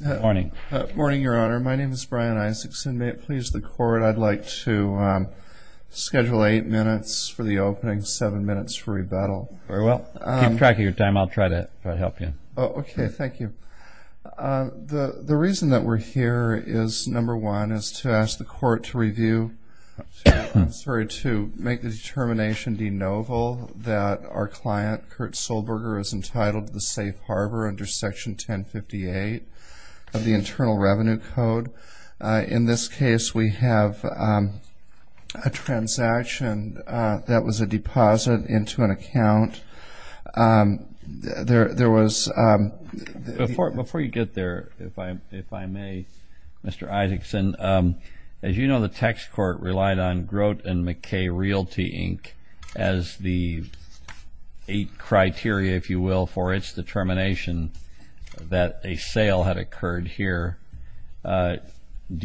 Morning. Morning, Your Honor. My name is Brian Isaacson. May it please the court I'd like to Schedule eight minutes for the opening seven minutes for rebuttal. Very well. I'm tracking your time. I'll try to help you. Okay. Thank you The the reason that we're here is number one is to ask the court to review Sorry to make the determination de novo that our client Kurt Sollberger is entitled to the safe harbor under section 1058 of the Internal Revenue Code in this case, we have a Transaction that was a deposit into an account There there was Before it before you get there if I if I may Mr. Isaacson as you know, the tax court relied on Grote and McKay Realty Inc as the eight criteria if you will for its determination That a sale had occurred here Do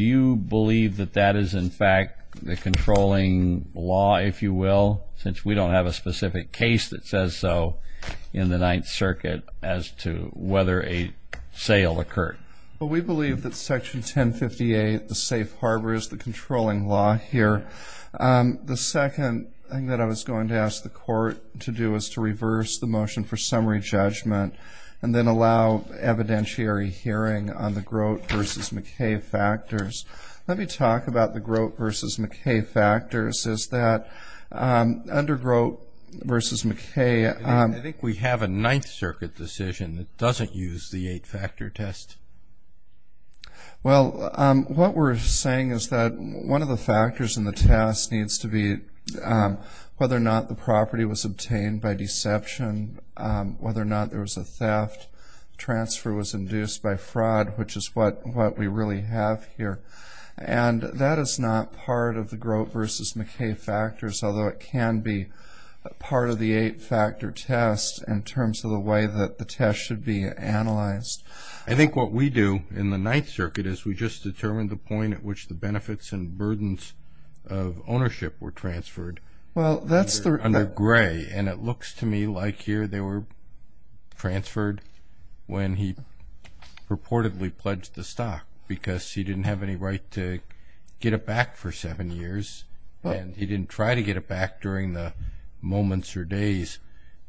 you believe that that is in fact the controlling law if you will since we don't have a specific case that says so in the Ninth Circuit as to whether a Sale occurred, but we believe that section 1058 the safe harbors the controlling law here the second thing that I was going to ask the court to do is to reverse the motion for summary judgment and then allow a Evidentiary hearing on the Grote versus McKay factors. Let me talk about the Grote versus McKay factors. Is that Under Grote versus McKay. I think we have a Ninth Circuit decision that doesn't use the eight factor test Well, what we're saying is that one of the factors in the test needs to be Whether or not the property was obtained by deception Whether or not there was a theft Transfer was induced by fraud, which is what what we really have here And that is not part of the Grote versus McKay factors Although it can be a part of the eight factor test in terms of the way that the test should be analyzed I think what we do in the Ninth Circuit is we just determined the point at which the benefits and burdens of Ownership were transferred. Well, that's the under gray and it looks to me like here they were Transferred when he purportedly pledged the stock because he didn't have any right to Get it back for seven years, but he didn't try to get it back during the moments or days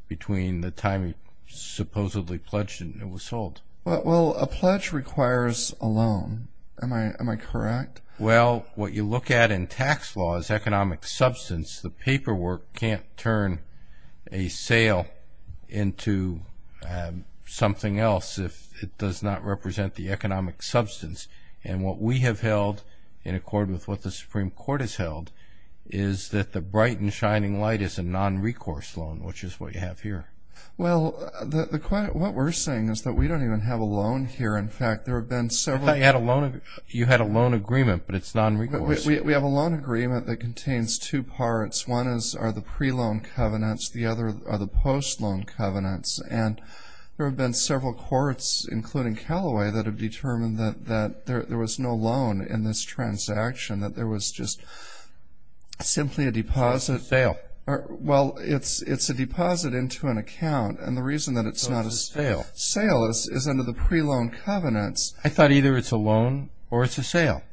between the time he Supposedly pledged and it was sold. Well a pledge requires a loan. Am I am I correct? Well what you look at in tax law is economic substance. The paperwork can't turn a Sale into Something else if it does not represent the economic substance and what we have held in accord with what the Supreme Court has held is That the bright and shining light is a non-recourse loan, which is what you have here Well the quiet what we're saying is that we don't even have a loan here In fact, there have been several I had a loan of you had a loan agreement, but it's not we have a loan agreement That contains two parts one is are the pre-loan covenants The other are the post loan covenants and there have been several courts including Callaway that have determined that that there was no loan in this transaction that there was just Simply a deposit sale Well, it's it's a deposit into an account and the reason that it's not a sale sale is is under the pre-loan covenants I thought either it's a loan or it's a sale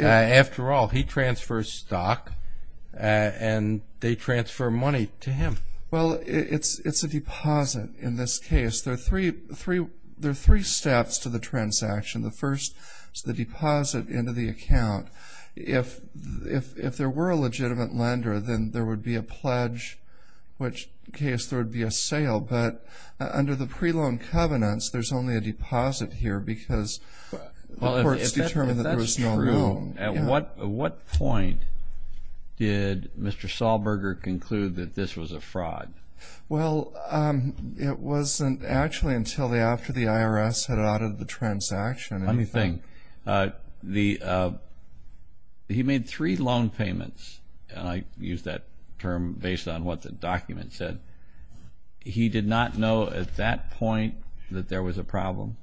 After all he transfers stock And they transfer money to him. Well, it's it's a deposit in this case There are three three. There are three steps to the transaction The first is the deposit into the account if if if there were a legitimate lender, then there would be a pledge Which case there would be a sale but under the pre-loan covenants. There's only a deposit here because It's determined that there was no room and what what point Did mr. Saul Berger conclude that this was a fraud? well It wasn't actually until the after the IRS had out of the transaction anything the He made three loan payments and I used that term based on what the document said He did not know at that point that there was a problem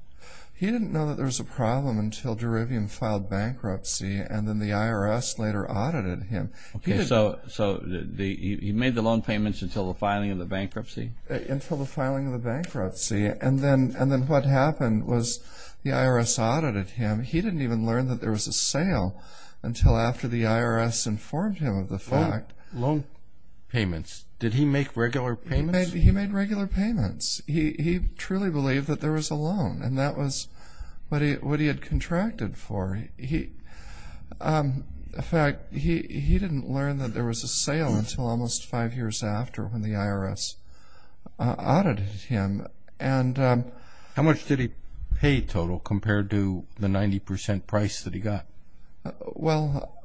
He didn't know that there was a problem until Derivium filed bankruptcy and then the IRS later audited him Okay So so the he made the loan payments until the filing of the bankruptcy Until the filing of the bankruptcy and then and then what happened was the IRS audited him He didn't even learn that there was a sale until after the IRS informed him of the fact loan Payments did he make regular pain maybe he made regular payments He truly believed that there was a loan and that was what he what he had contracted for. He Fact he he didn't learn that there was a sale until almost five years after when the IRS audited him and How much did he pay total compared to the 90% price that he got? Well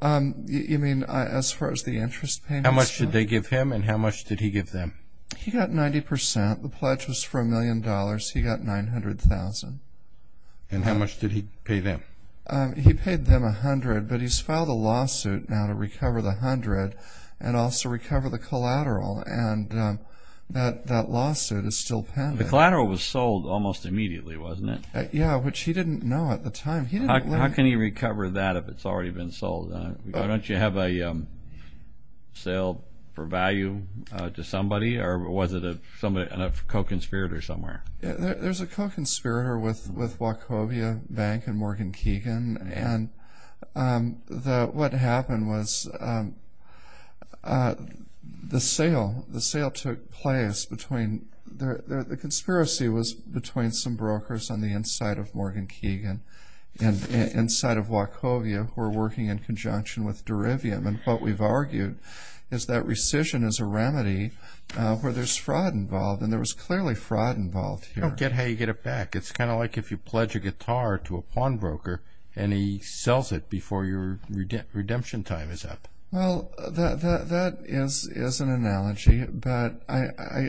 You mean as far as the interest how much did they give him and how much did he give them? He got 90 percent. The pledge was for a million dollars. He got 900,000 and how much did he pay them? he paid them a hundred but he's filed a lawsuit now to recover the hundred and also recover the collateral and That that lawsuit is still the collateral was sold almost immediately wasn't it? Yeah, which he didn't know at the time How can he recover that if it's already been sold don't you have a Sale for value to somebody or was it a somebody and a co-conspirator somewhere? there's a co-conspirator with with Wachovia Bank and Morgan Keegan and the what happened was The sale the sale took place between The conspiracy was between some brokers on the inside of Morgan Keegan and Inside of Wachovia who are working in conjunction with Derivium and what we've argued is that rescission is a remedy Where there's fraud involved and there was clearly fraud involved. You don't get how you get it back It's kind of like if you pledge a guitar to a pawnbroker and he sells it before your redemption time is up That is is an analogy, but I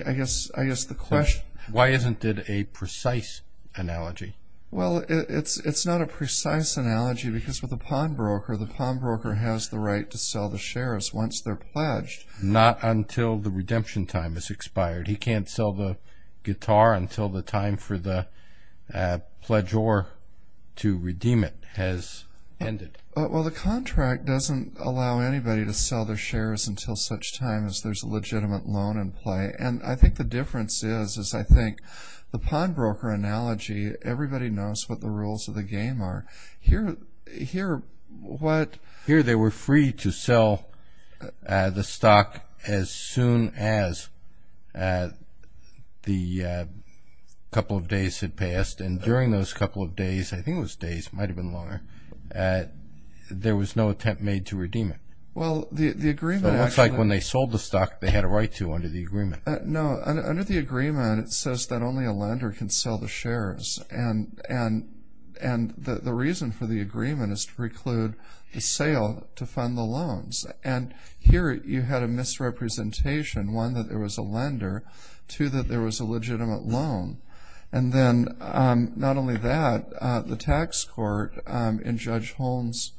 I guess I guess the question why isn't it a precise Analogy. Well, it's it's not a precise analogy because with a pawnbroker The pawnbroker has the right to sell the shares once they're pledged not until the redemption time is expired he can't sell the guitar until the time for the pledge or to redeem it has Ended. Well, the contract doesn't allow anybody to sell their shares until such time as there's a legitimate loan in play And I think the difference is is I think the pawnbroker analogy Everybody knows what the rules of the game are here here what here they were free to sell the stock as soon as The Couple of days had passed and during those couple of days I think it was days might have been longer There was no attempt made to redeem it Well, the the agreement looks like when they sold the stock they had a right to under the agreement No under the agreement it says that only a lender can sell the shares and and and The reason for the agreement is to preclude the sale to fund the loans and here you had a misrepresentation One that there was a lender to that. There was a legitimate loan and then Not only that the tax court in Judge Holmes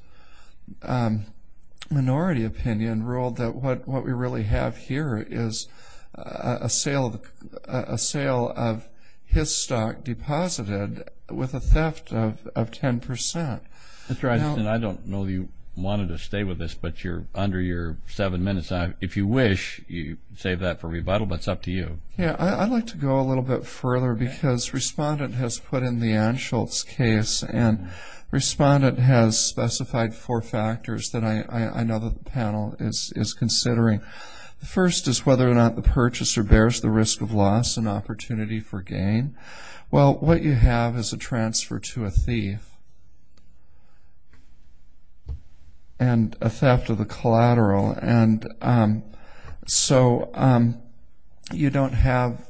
Minority opinion ruled that what what we really have here is a sale a sale of his stock deposited with a theft of 10% that's right. And I don't know you wanted to stay with us, but you're under your seven minutes If you wish you save that for rebuttal, but it's up to you yeah, I'd like to go a little bit further because respondent has put in the Anschult's case and Respondent has specified four factors that I know that the panel is is considering The first is whether or not the purchaser bears the risk of loss an opportunity for gain well, what you have is a transfer to a thief and Theft of the collateral and so You don't have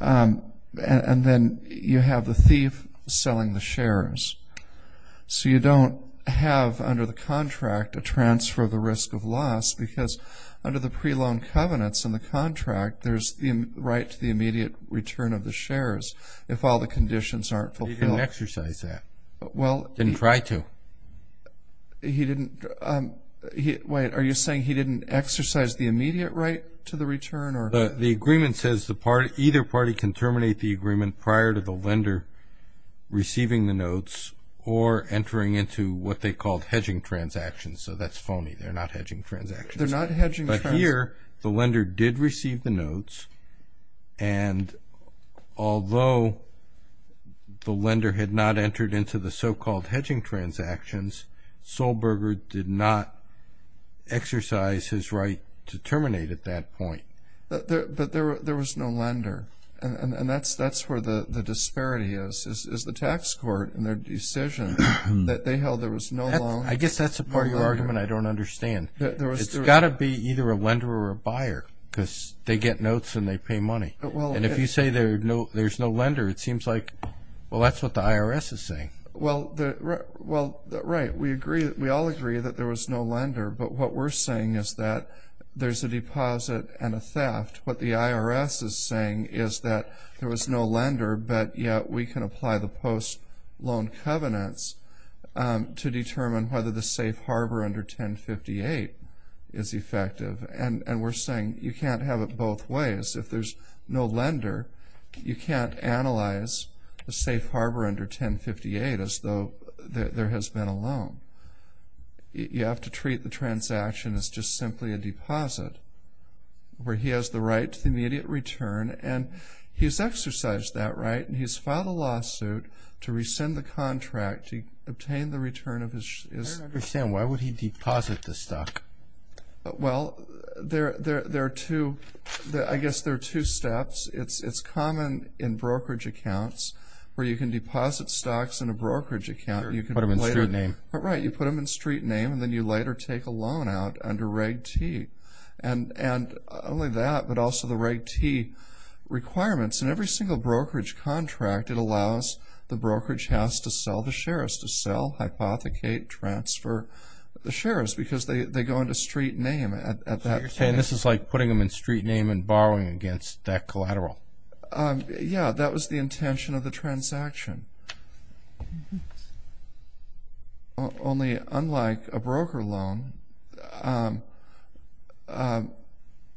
And then you have the thief selling the shares so you don't have under the contract a transfer of the risk of loss because Under the pre-loan covenants in the contract There's the right to the immediate return of the shares if all the conditions aren't fulfilled exercise that but well didn't try to He didn't Hit wait, are you saying he didn't exercise the immediate right to the return? Or the agreement says the party either party can terminate the agreement prior to the lender Receiving the notes or entering into what they called hedging transactions. So that's phony. They're not hedging transactions they're not hedging but here the lender did receive the notes and Although The lender had not entered into the so-called hedging transactions Solberger did not Exercise his right to terminate at that point But there was no lender and and that's that's where the the disparity is is the tax court and their decision That they held there was no I guess that's a part of your argument. I don't understand There was it's got to be either a lender or a buyer because they get notes and they pay money And if you say there no, there's no lender it seems like well, that's what the IRS is saying Well, the well that right we agree that we all agree that there was no lender But what we're saying is that there's a deposit and a theft what the IRS is saying is that there was no lender But yet we can apply the post loan covenants to determine whether the safe harbor under 1058 is Defective and and we're saying you can't have it both ways if there's no lender You can't analyze the safe harbor under 1058 as though there has been a loan You have to treat the transaction as just simply a deposit Where he has the right to the immediate return and he's exercised that right and he's filed a lawsuit To rescind the contract to obtain the return of his is understand. Why would he deposit the stock? Well there there there are two that I guess there are two steps It's it's common in brokerage accounts where you can deposit stocks in a brokerage account You can put them in straight name All right You put them in street name and then you later take a loan out under reg T and and only that but also the reg T Requirements and every single brokerage contract it allows the brokerage house to sell the shares to sell Hypothecate transfer the shares because they go into street name at that You're saying this is like putting them in street name and borrowing against that collateral Yeah, that was the intention of the transaction Only unlike a broker loan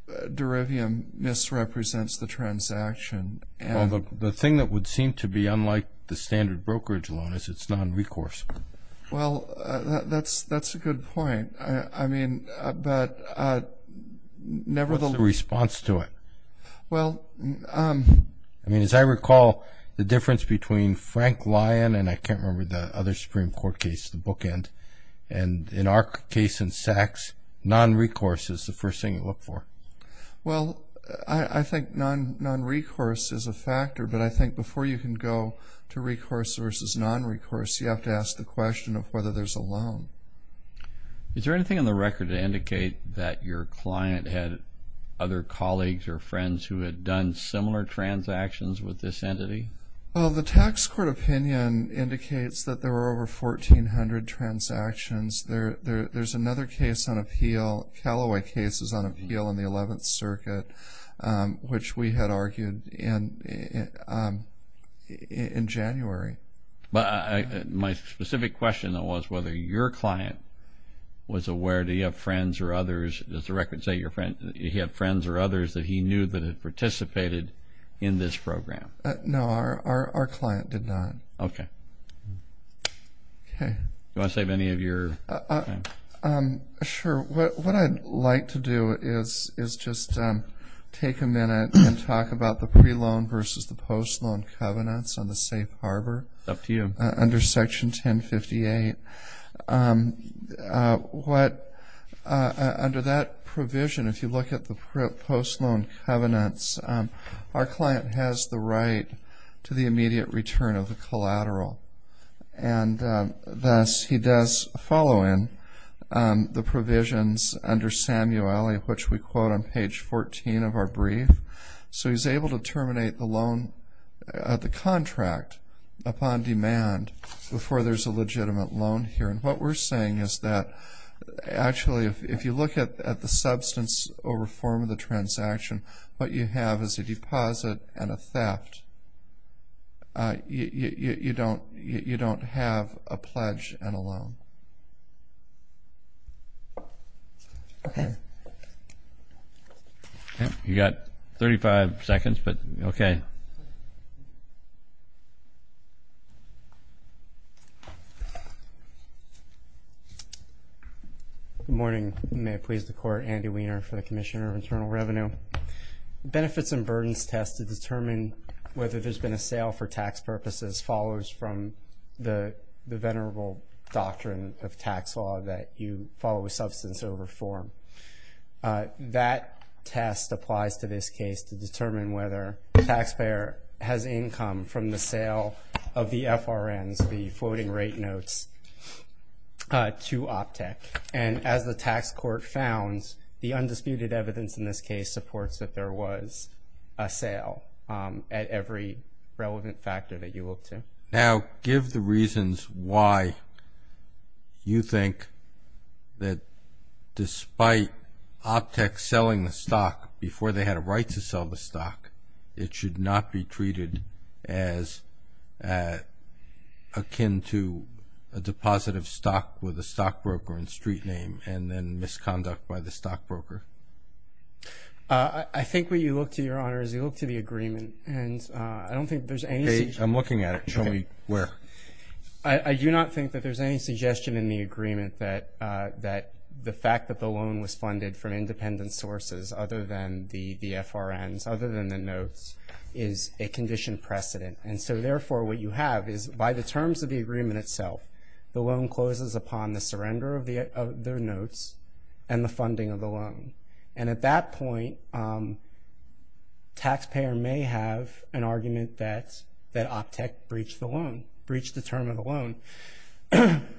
Derivium Misrepresents the transaction and the thing that would seem to be unlike the standard brokerage loan is it's non-recourse Well, that's that's a good point. I mean, but Never the response to it well, I mean as I recall the difference between Frank Lyon, and I can't remember the other Supreme Court case the bookend and in our case in sex Non-recourse is the first thing you look for Well, I think non non recourse is a factor But I think before you can go to recourse versus non recourse you have to ask the question of whether there's a loan Is there anything in the record to indicate that your client had other colleagues or friends who had done similar? Transactions with this entity. Well, the tax court opinion indicates that there were over 1,400 transactions there. There's another case on appeal Callaway cases on appeal in the 11th Circuit which we had argued and In January, but I my specific question that was whether your client Was aware do you have friends or others? Does the record say your friend you have friends or others that he knew that had participated in this program? No, our our client did not. Okay Okay, you want to save any of your Sure, what I'd like to do is is just Take a minute and talk about the pre loan versus the post loan covenants on the safe harbor up to you under section 1058 What Under that provision if you look at the post loan covenants our client has the right to the immediate return of the collateral and Thus he does follow in The provisions under Samueli which we quote on page 14 of our brief, so he's able to terminate the loan at the contract Upon demand before there's a legitimate loan here. And what we're saying is that Actually, if you look at the substance or reform of the transaction, but you have as a deposit and a theft You don't you don't have a pledge and a loan Okay You got 35 seconds, but okay Morning may please the court Andy Weiner for the Commissioner of Internal Revenue benefits and burdens test to determine whether there's been a sale for tax purposes follows from the Venerable doctrine of tax law that you follow a substance of reform that test applies to this case to determine whether the taxpayer has income from the sale of The FRN's the floating rate notes To OPTEC and as the tax court founds the undisputed evidence in this case supports that there was a sale At every relevant factor that you look to now give the reasons why You think that Despite OPTEC selling the stock before they had a right to sell the stock. It should not be treated as Akin to a deposit of stock with a stockbroker and street name and then misconduct by the stockbroker I think what you look to your honor is you look to the agreement and I don't think there's any I'm looking at it Show me where I do not think that there's any suggestion in the agreement that that the fact that the loan was funded from independent sources other than the the FRN's other than the notes is a Condition precedent and so therefore what you have is by the terms of the agreement itself The loan closes upon the surrender of the of their notes and the funding of the loan and at that point Taxpayer may have an argument that that OPTEC breached the loan breached the term of the loan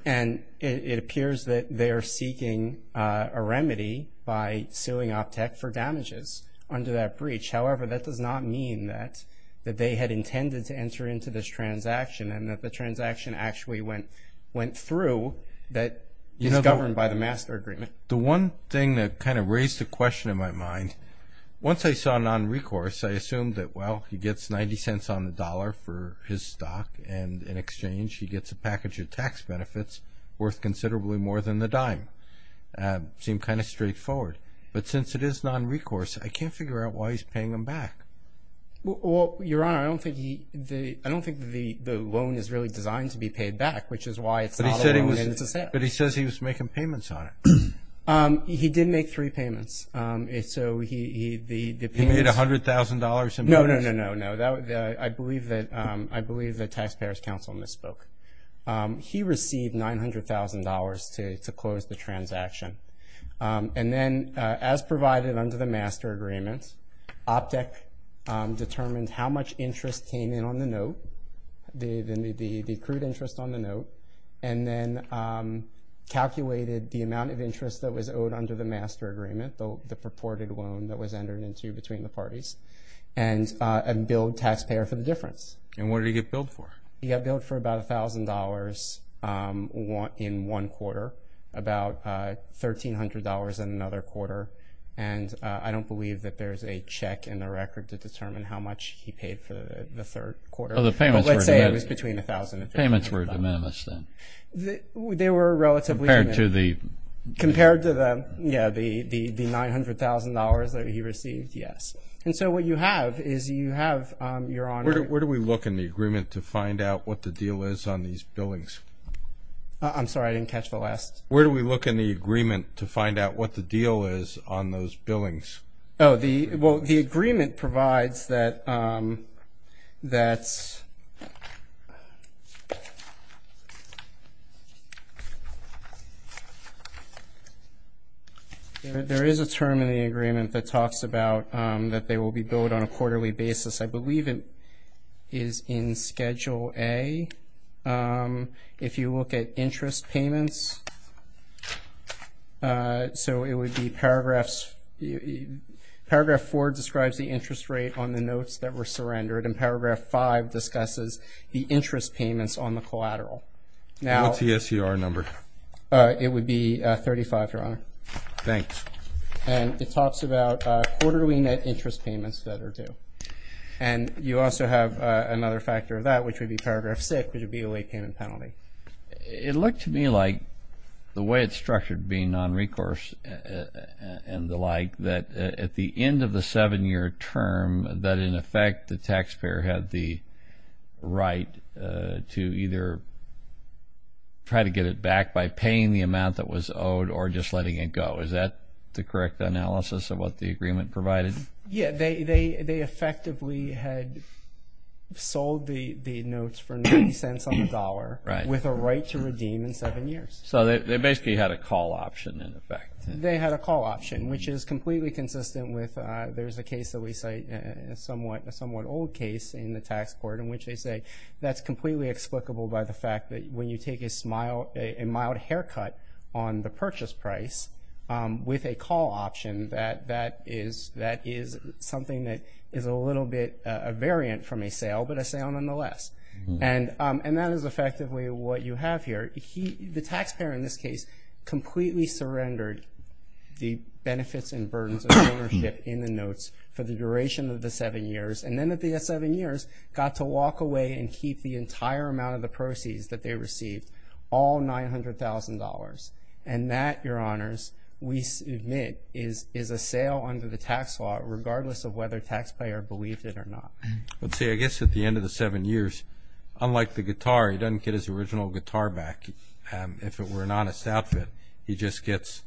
And it appears that they are seeking a remedy by suing OPTEC for damages under that breach However, that does not mean that that they had intended to enter into this transaction and that the transaction actually went Through that you know governed by the master agreement the one thing that kind of raised a question in my mind Once I saw non-recourse I assumed that well he gets 90 cents on the dollar for his stock and in exchange He gets a package of tax benefits worth considerably more than the dime Seem kind of straightforward, but since it is non-recourse, I can't figure out why he's paying him back Well, you're on I don't think he the I don't think the the loan is really designed to be paid back Which is why it's a city, but he says he was making payments on it He didn't make three payments. It's so he the the paid a hundred thousand dollars. No, no, no No, I believe that I believe the Taxpayers Council misspoke He received nine hundred thousand dollars to close the transaction And then as provided under the master agreements OPTEC Determined how much interest came in on the note? the the the the crude interest on the note and then Calculated the amount of interest that was owed under the master agreement though the purported loan that was entered into between the parties and And billed taxpayer for the difference and what do you get billed for you got billed for about a thousand dollars? want in one quarter about $1,300 in another quarter and I don't believe that there's a check in the record to determine how much he paid for the third quarter of the payment Let's say it was between a thousand payments were de minimis then They were relatively to the compared to them. Yeah, the the the nine hundred thousand dollars that he received Yes, and so what you have is you have your honor. Where do we look in the agreement to find out? What the deal is on these buildings? I'm sorry. I didn't catch the last where do we look in the agreement to find out what the deal is on those billings? Oh the well the agreement provides that That's There is a term in the agreement that talks about that they will be billed on a quarterly basis, I believe it is in schedule a if you look at interest payments So it would be paragraphs You Paragraph 4 describes the interest rate on the notes that were surrendered and paragraph 5 Discusses the interest payments on the collateral now. Yes. You are number It would be 35 your honor. Thanks, and it talks about quarterly net interest payments that are due and You also have another factor of that which would be paragraph 6 which would be a late payment penalty It looked to me like the way it's structured being non-recourse And the like that at the end of the seven-year term that in effect the taxpayer had the right to either Try to get it back by paying the amount that was owed or just letting it go Is that the correct analysis of what the agreement provided? Yeah, they they they effectively had Sold the the notes for $0.90 with a right to redeem in seven years So they basically had a call option in effect They had a call option, which is completely consistent with there's a case that we say somewhat a somewhat old case in the tax court in which they say That's completely explicable by the fact that when you take a smile a mild haircut on the purchase price With a call option that that is that is something that is a little bit a variant from a sale But I say on the less and and that is effectively what you have here. He the taxpayer in this case completely surrendered the benefits and burdens of Ownership in the notes for the duration of the seven years and then at the S seven years Got to walk away and keep the entire amount of the proceeds that they received all $900,000 and that your honors we submit is is a sale under the tax law regardless of whether taxpayer believed it or not Let's say I guess at the end of the seven years Unlike the guitar. He doesn't get his original guitar back if it were an honest outfit. He just gets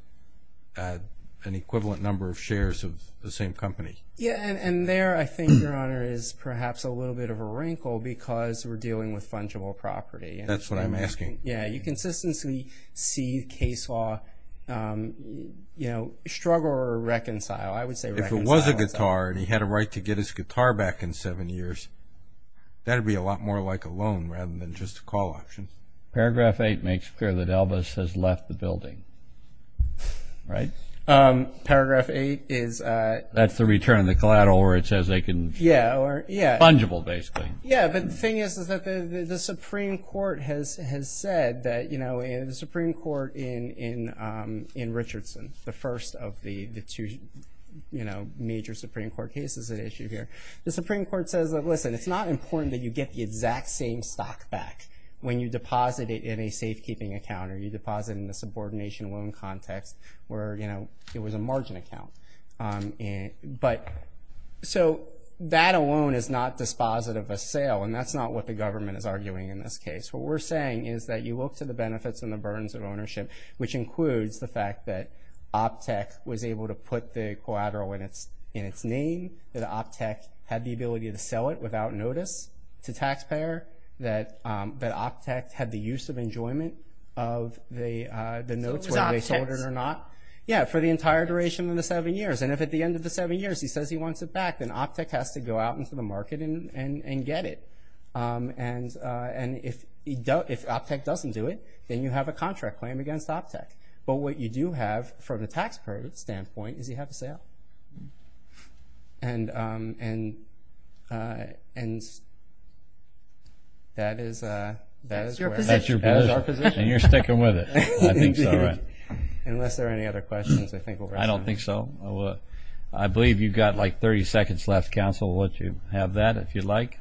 An equivalent number of shares of the same company. Yeah, and there I think your honor is perhaps a little bit of a wrinkle because We're dealing with fungible property. That's what I'm asking. Yeah, you consistently see case law You know struggle or reconcile I would say if it was a guitar and he had a right to get his guitar back in seven years That'd be a lot more like a loan rather than just a call option paragraph 8 makes clear that Elvis has left the building right Paragraph 8 is that's the return of the collateral where it says they can yeah. Yeah fungible, basically yeah, but the thing is is that the Supreme Court has has said that you know in the Supreme Court in in Richardson the first of the the two, you know major Supreme Court cases at issue here the Supreme Court says that listen It's not important that you get the exact same stock back when you deposit it in a safekeeping account or you deposit in the subordination Loan context where you know, it was a margin account but So that alone is not dispositive a sale and that's not what the government is arguing in this case what we're saying is that you look to the benefits and the burdens of ownership, which includes the fact that Optech was able to put the collateral in its in its name that Optech had the ability to sell it without notice to taxpayer that that Optech had the use of enjoyment of The the notes whether they sold it or not Yeah for the entire duration of the seven years and if at the end of the seven years he says he wants it back then Optech has to go out into the market and and and get it And and if you don't if Optech doesn't do it, then you have a contract claim against Optech but what you do have from the taxpayer standpoint is you have a sale and and and That is You're sticking with it Unless there are any other questions. I think I don't think so Oh, I believe you've got like 30 seconds left counsel what you have that if you'd like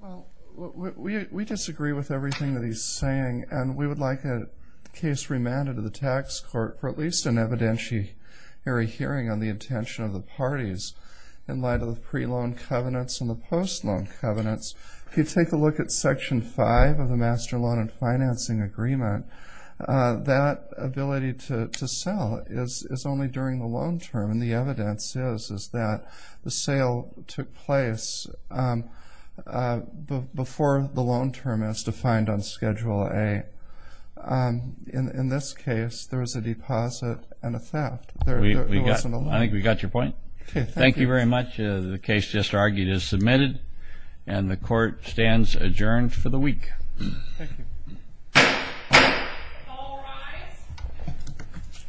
Well, we disagree with everything that he's saying and we would like a case remanded to the tax court for at least an evidentiary Hearing on the intention of the parties in light of the pre-loan covenants and the post loan covenants If you take a look at section 5 of the master loan and financing agreement That ability to sell is only during the loan term and the evidence is is that the sale took place? But before the loan term is defined on schedule a In this case, there was a deposit and a theft I think we got your point. Thank you very much. The case just argued is submitted and the court stands adjourned for the week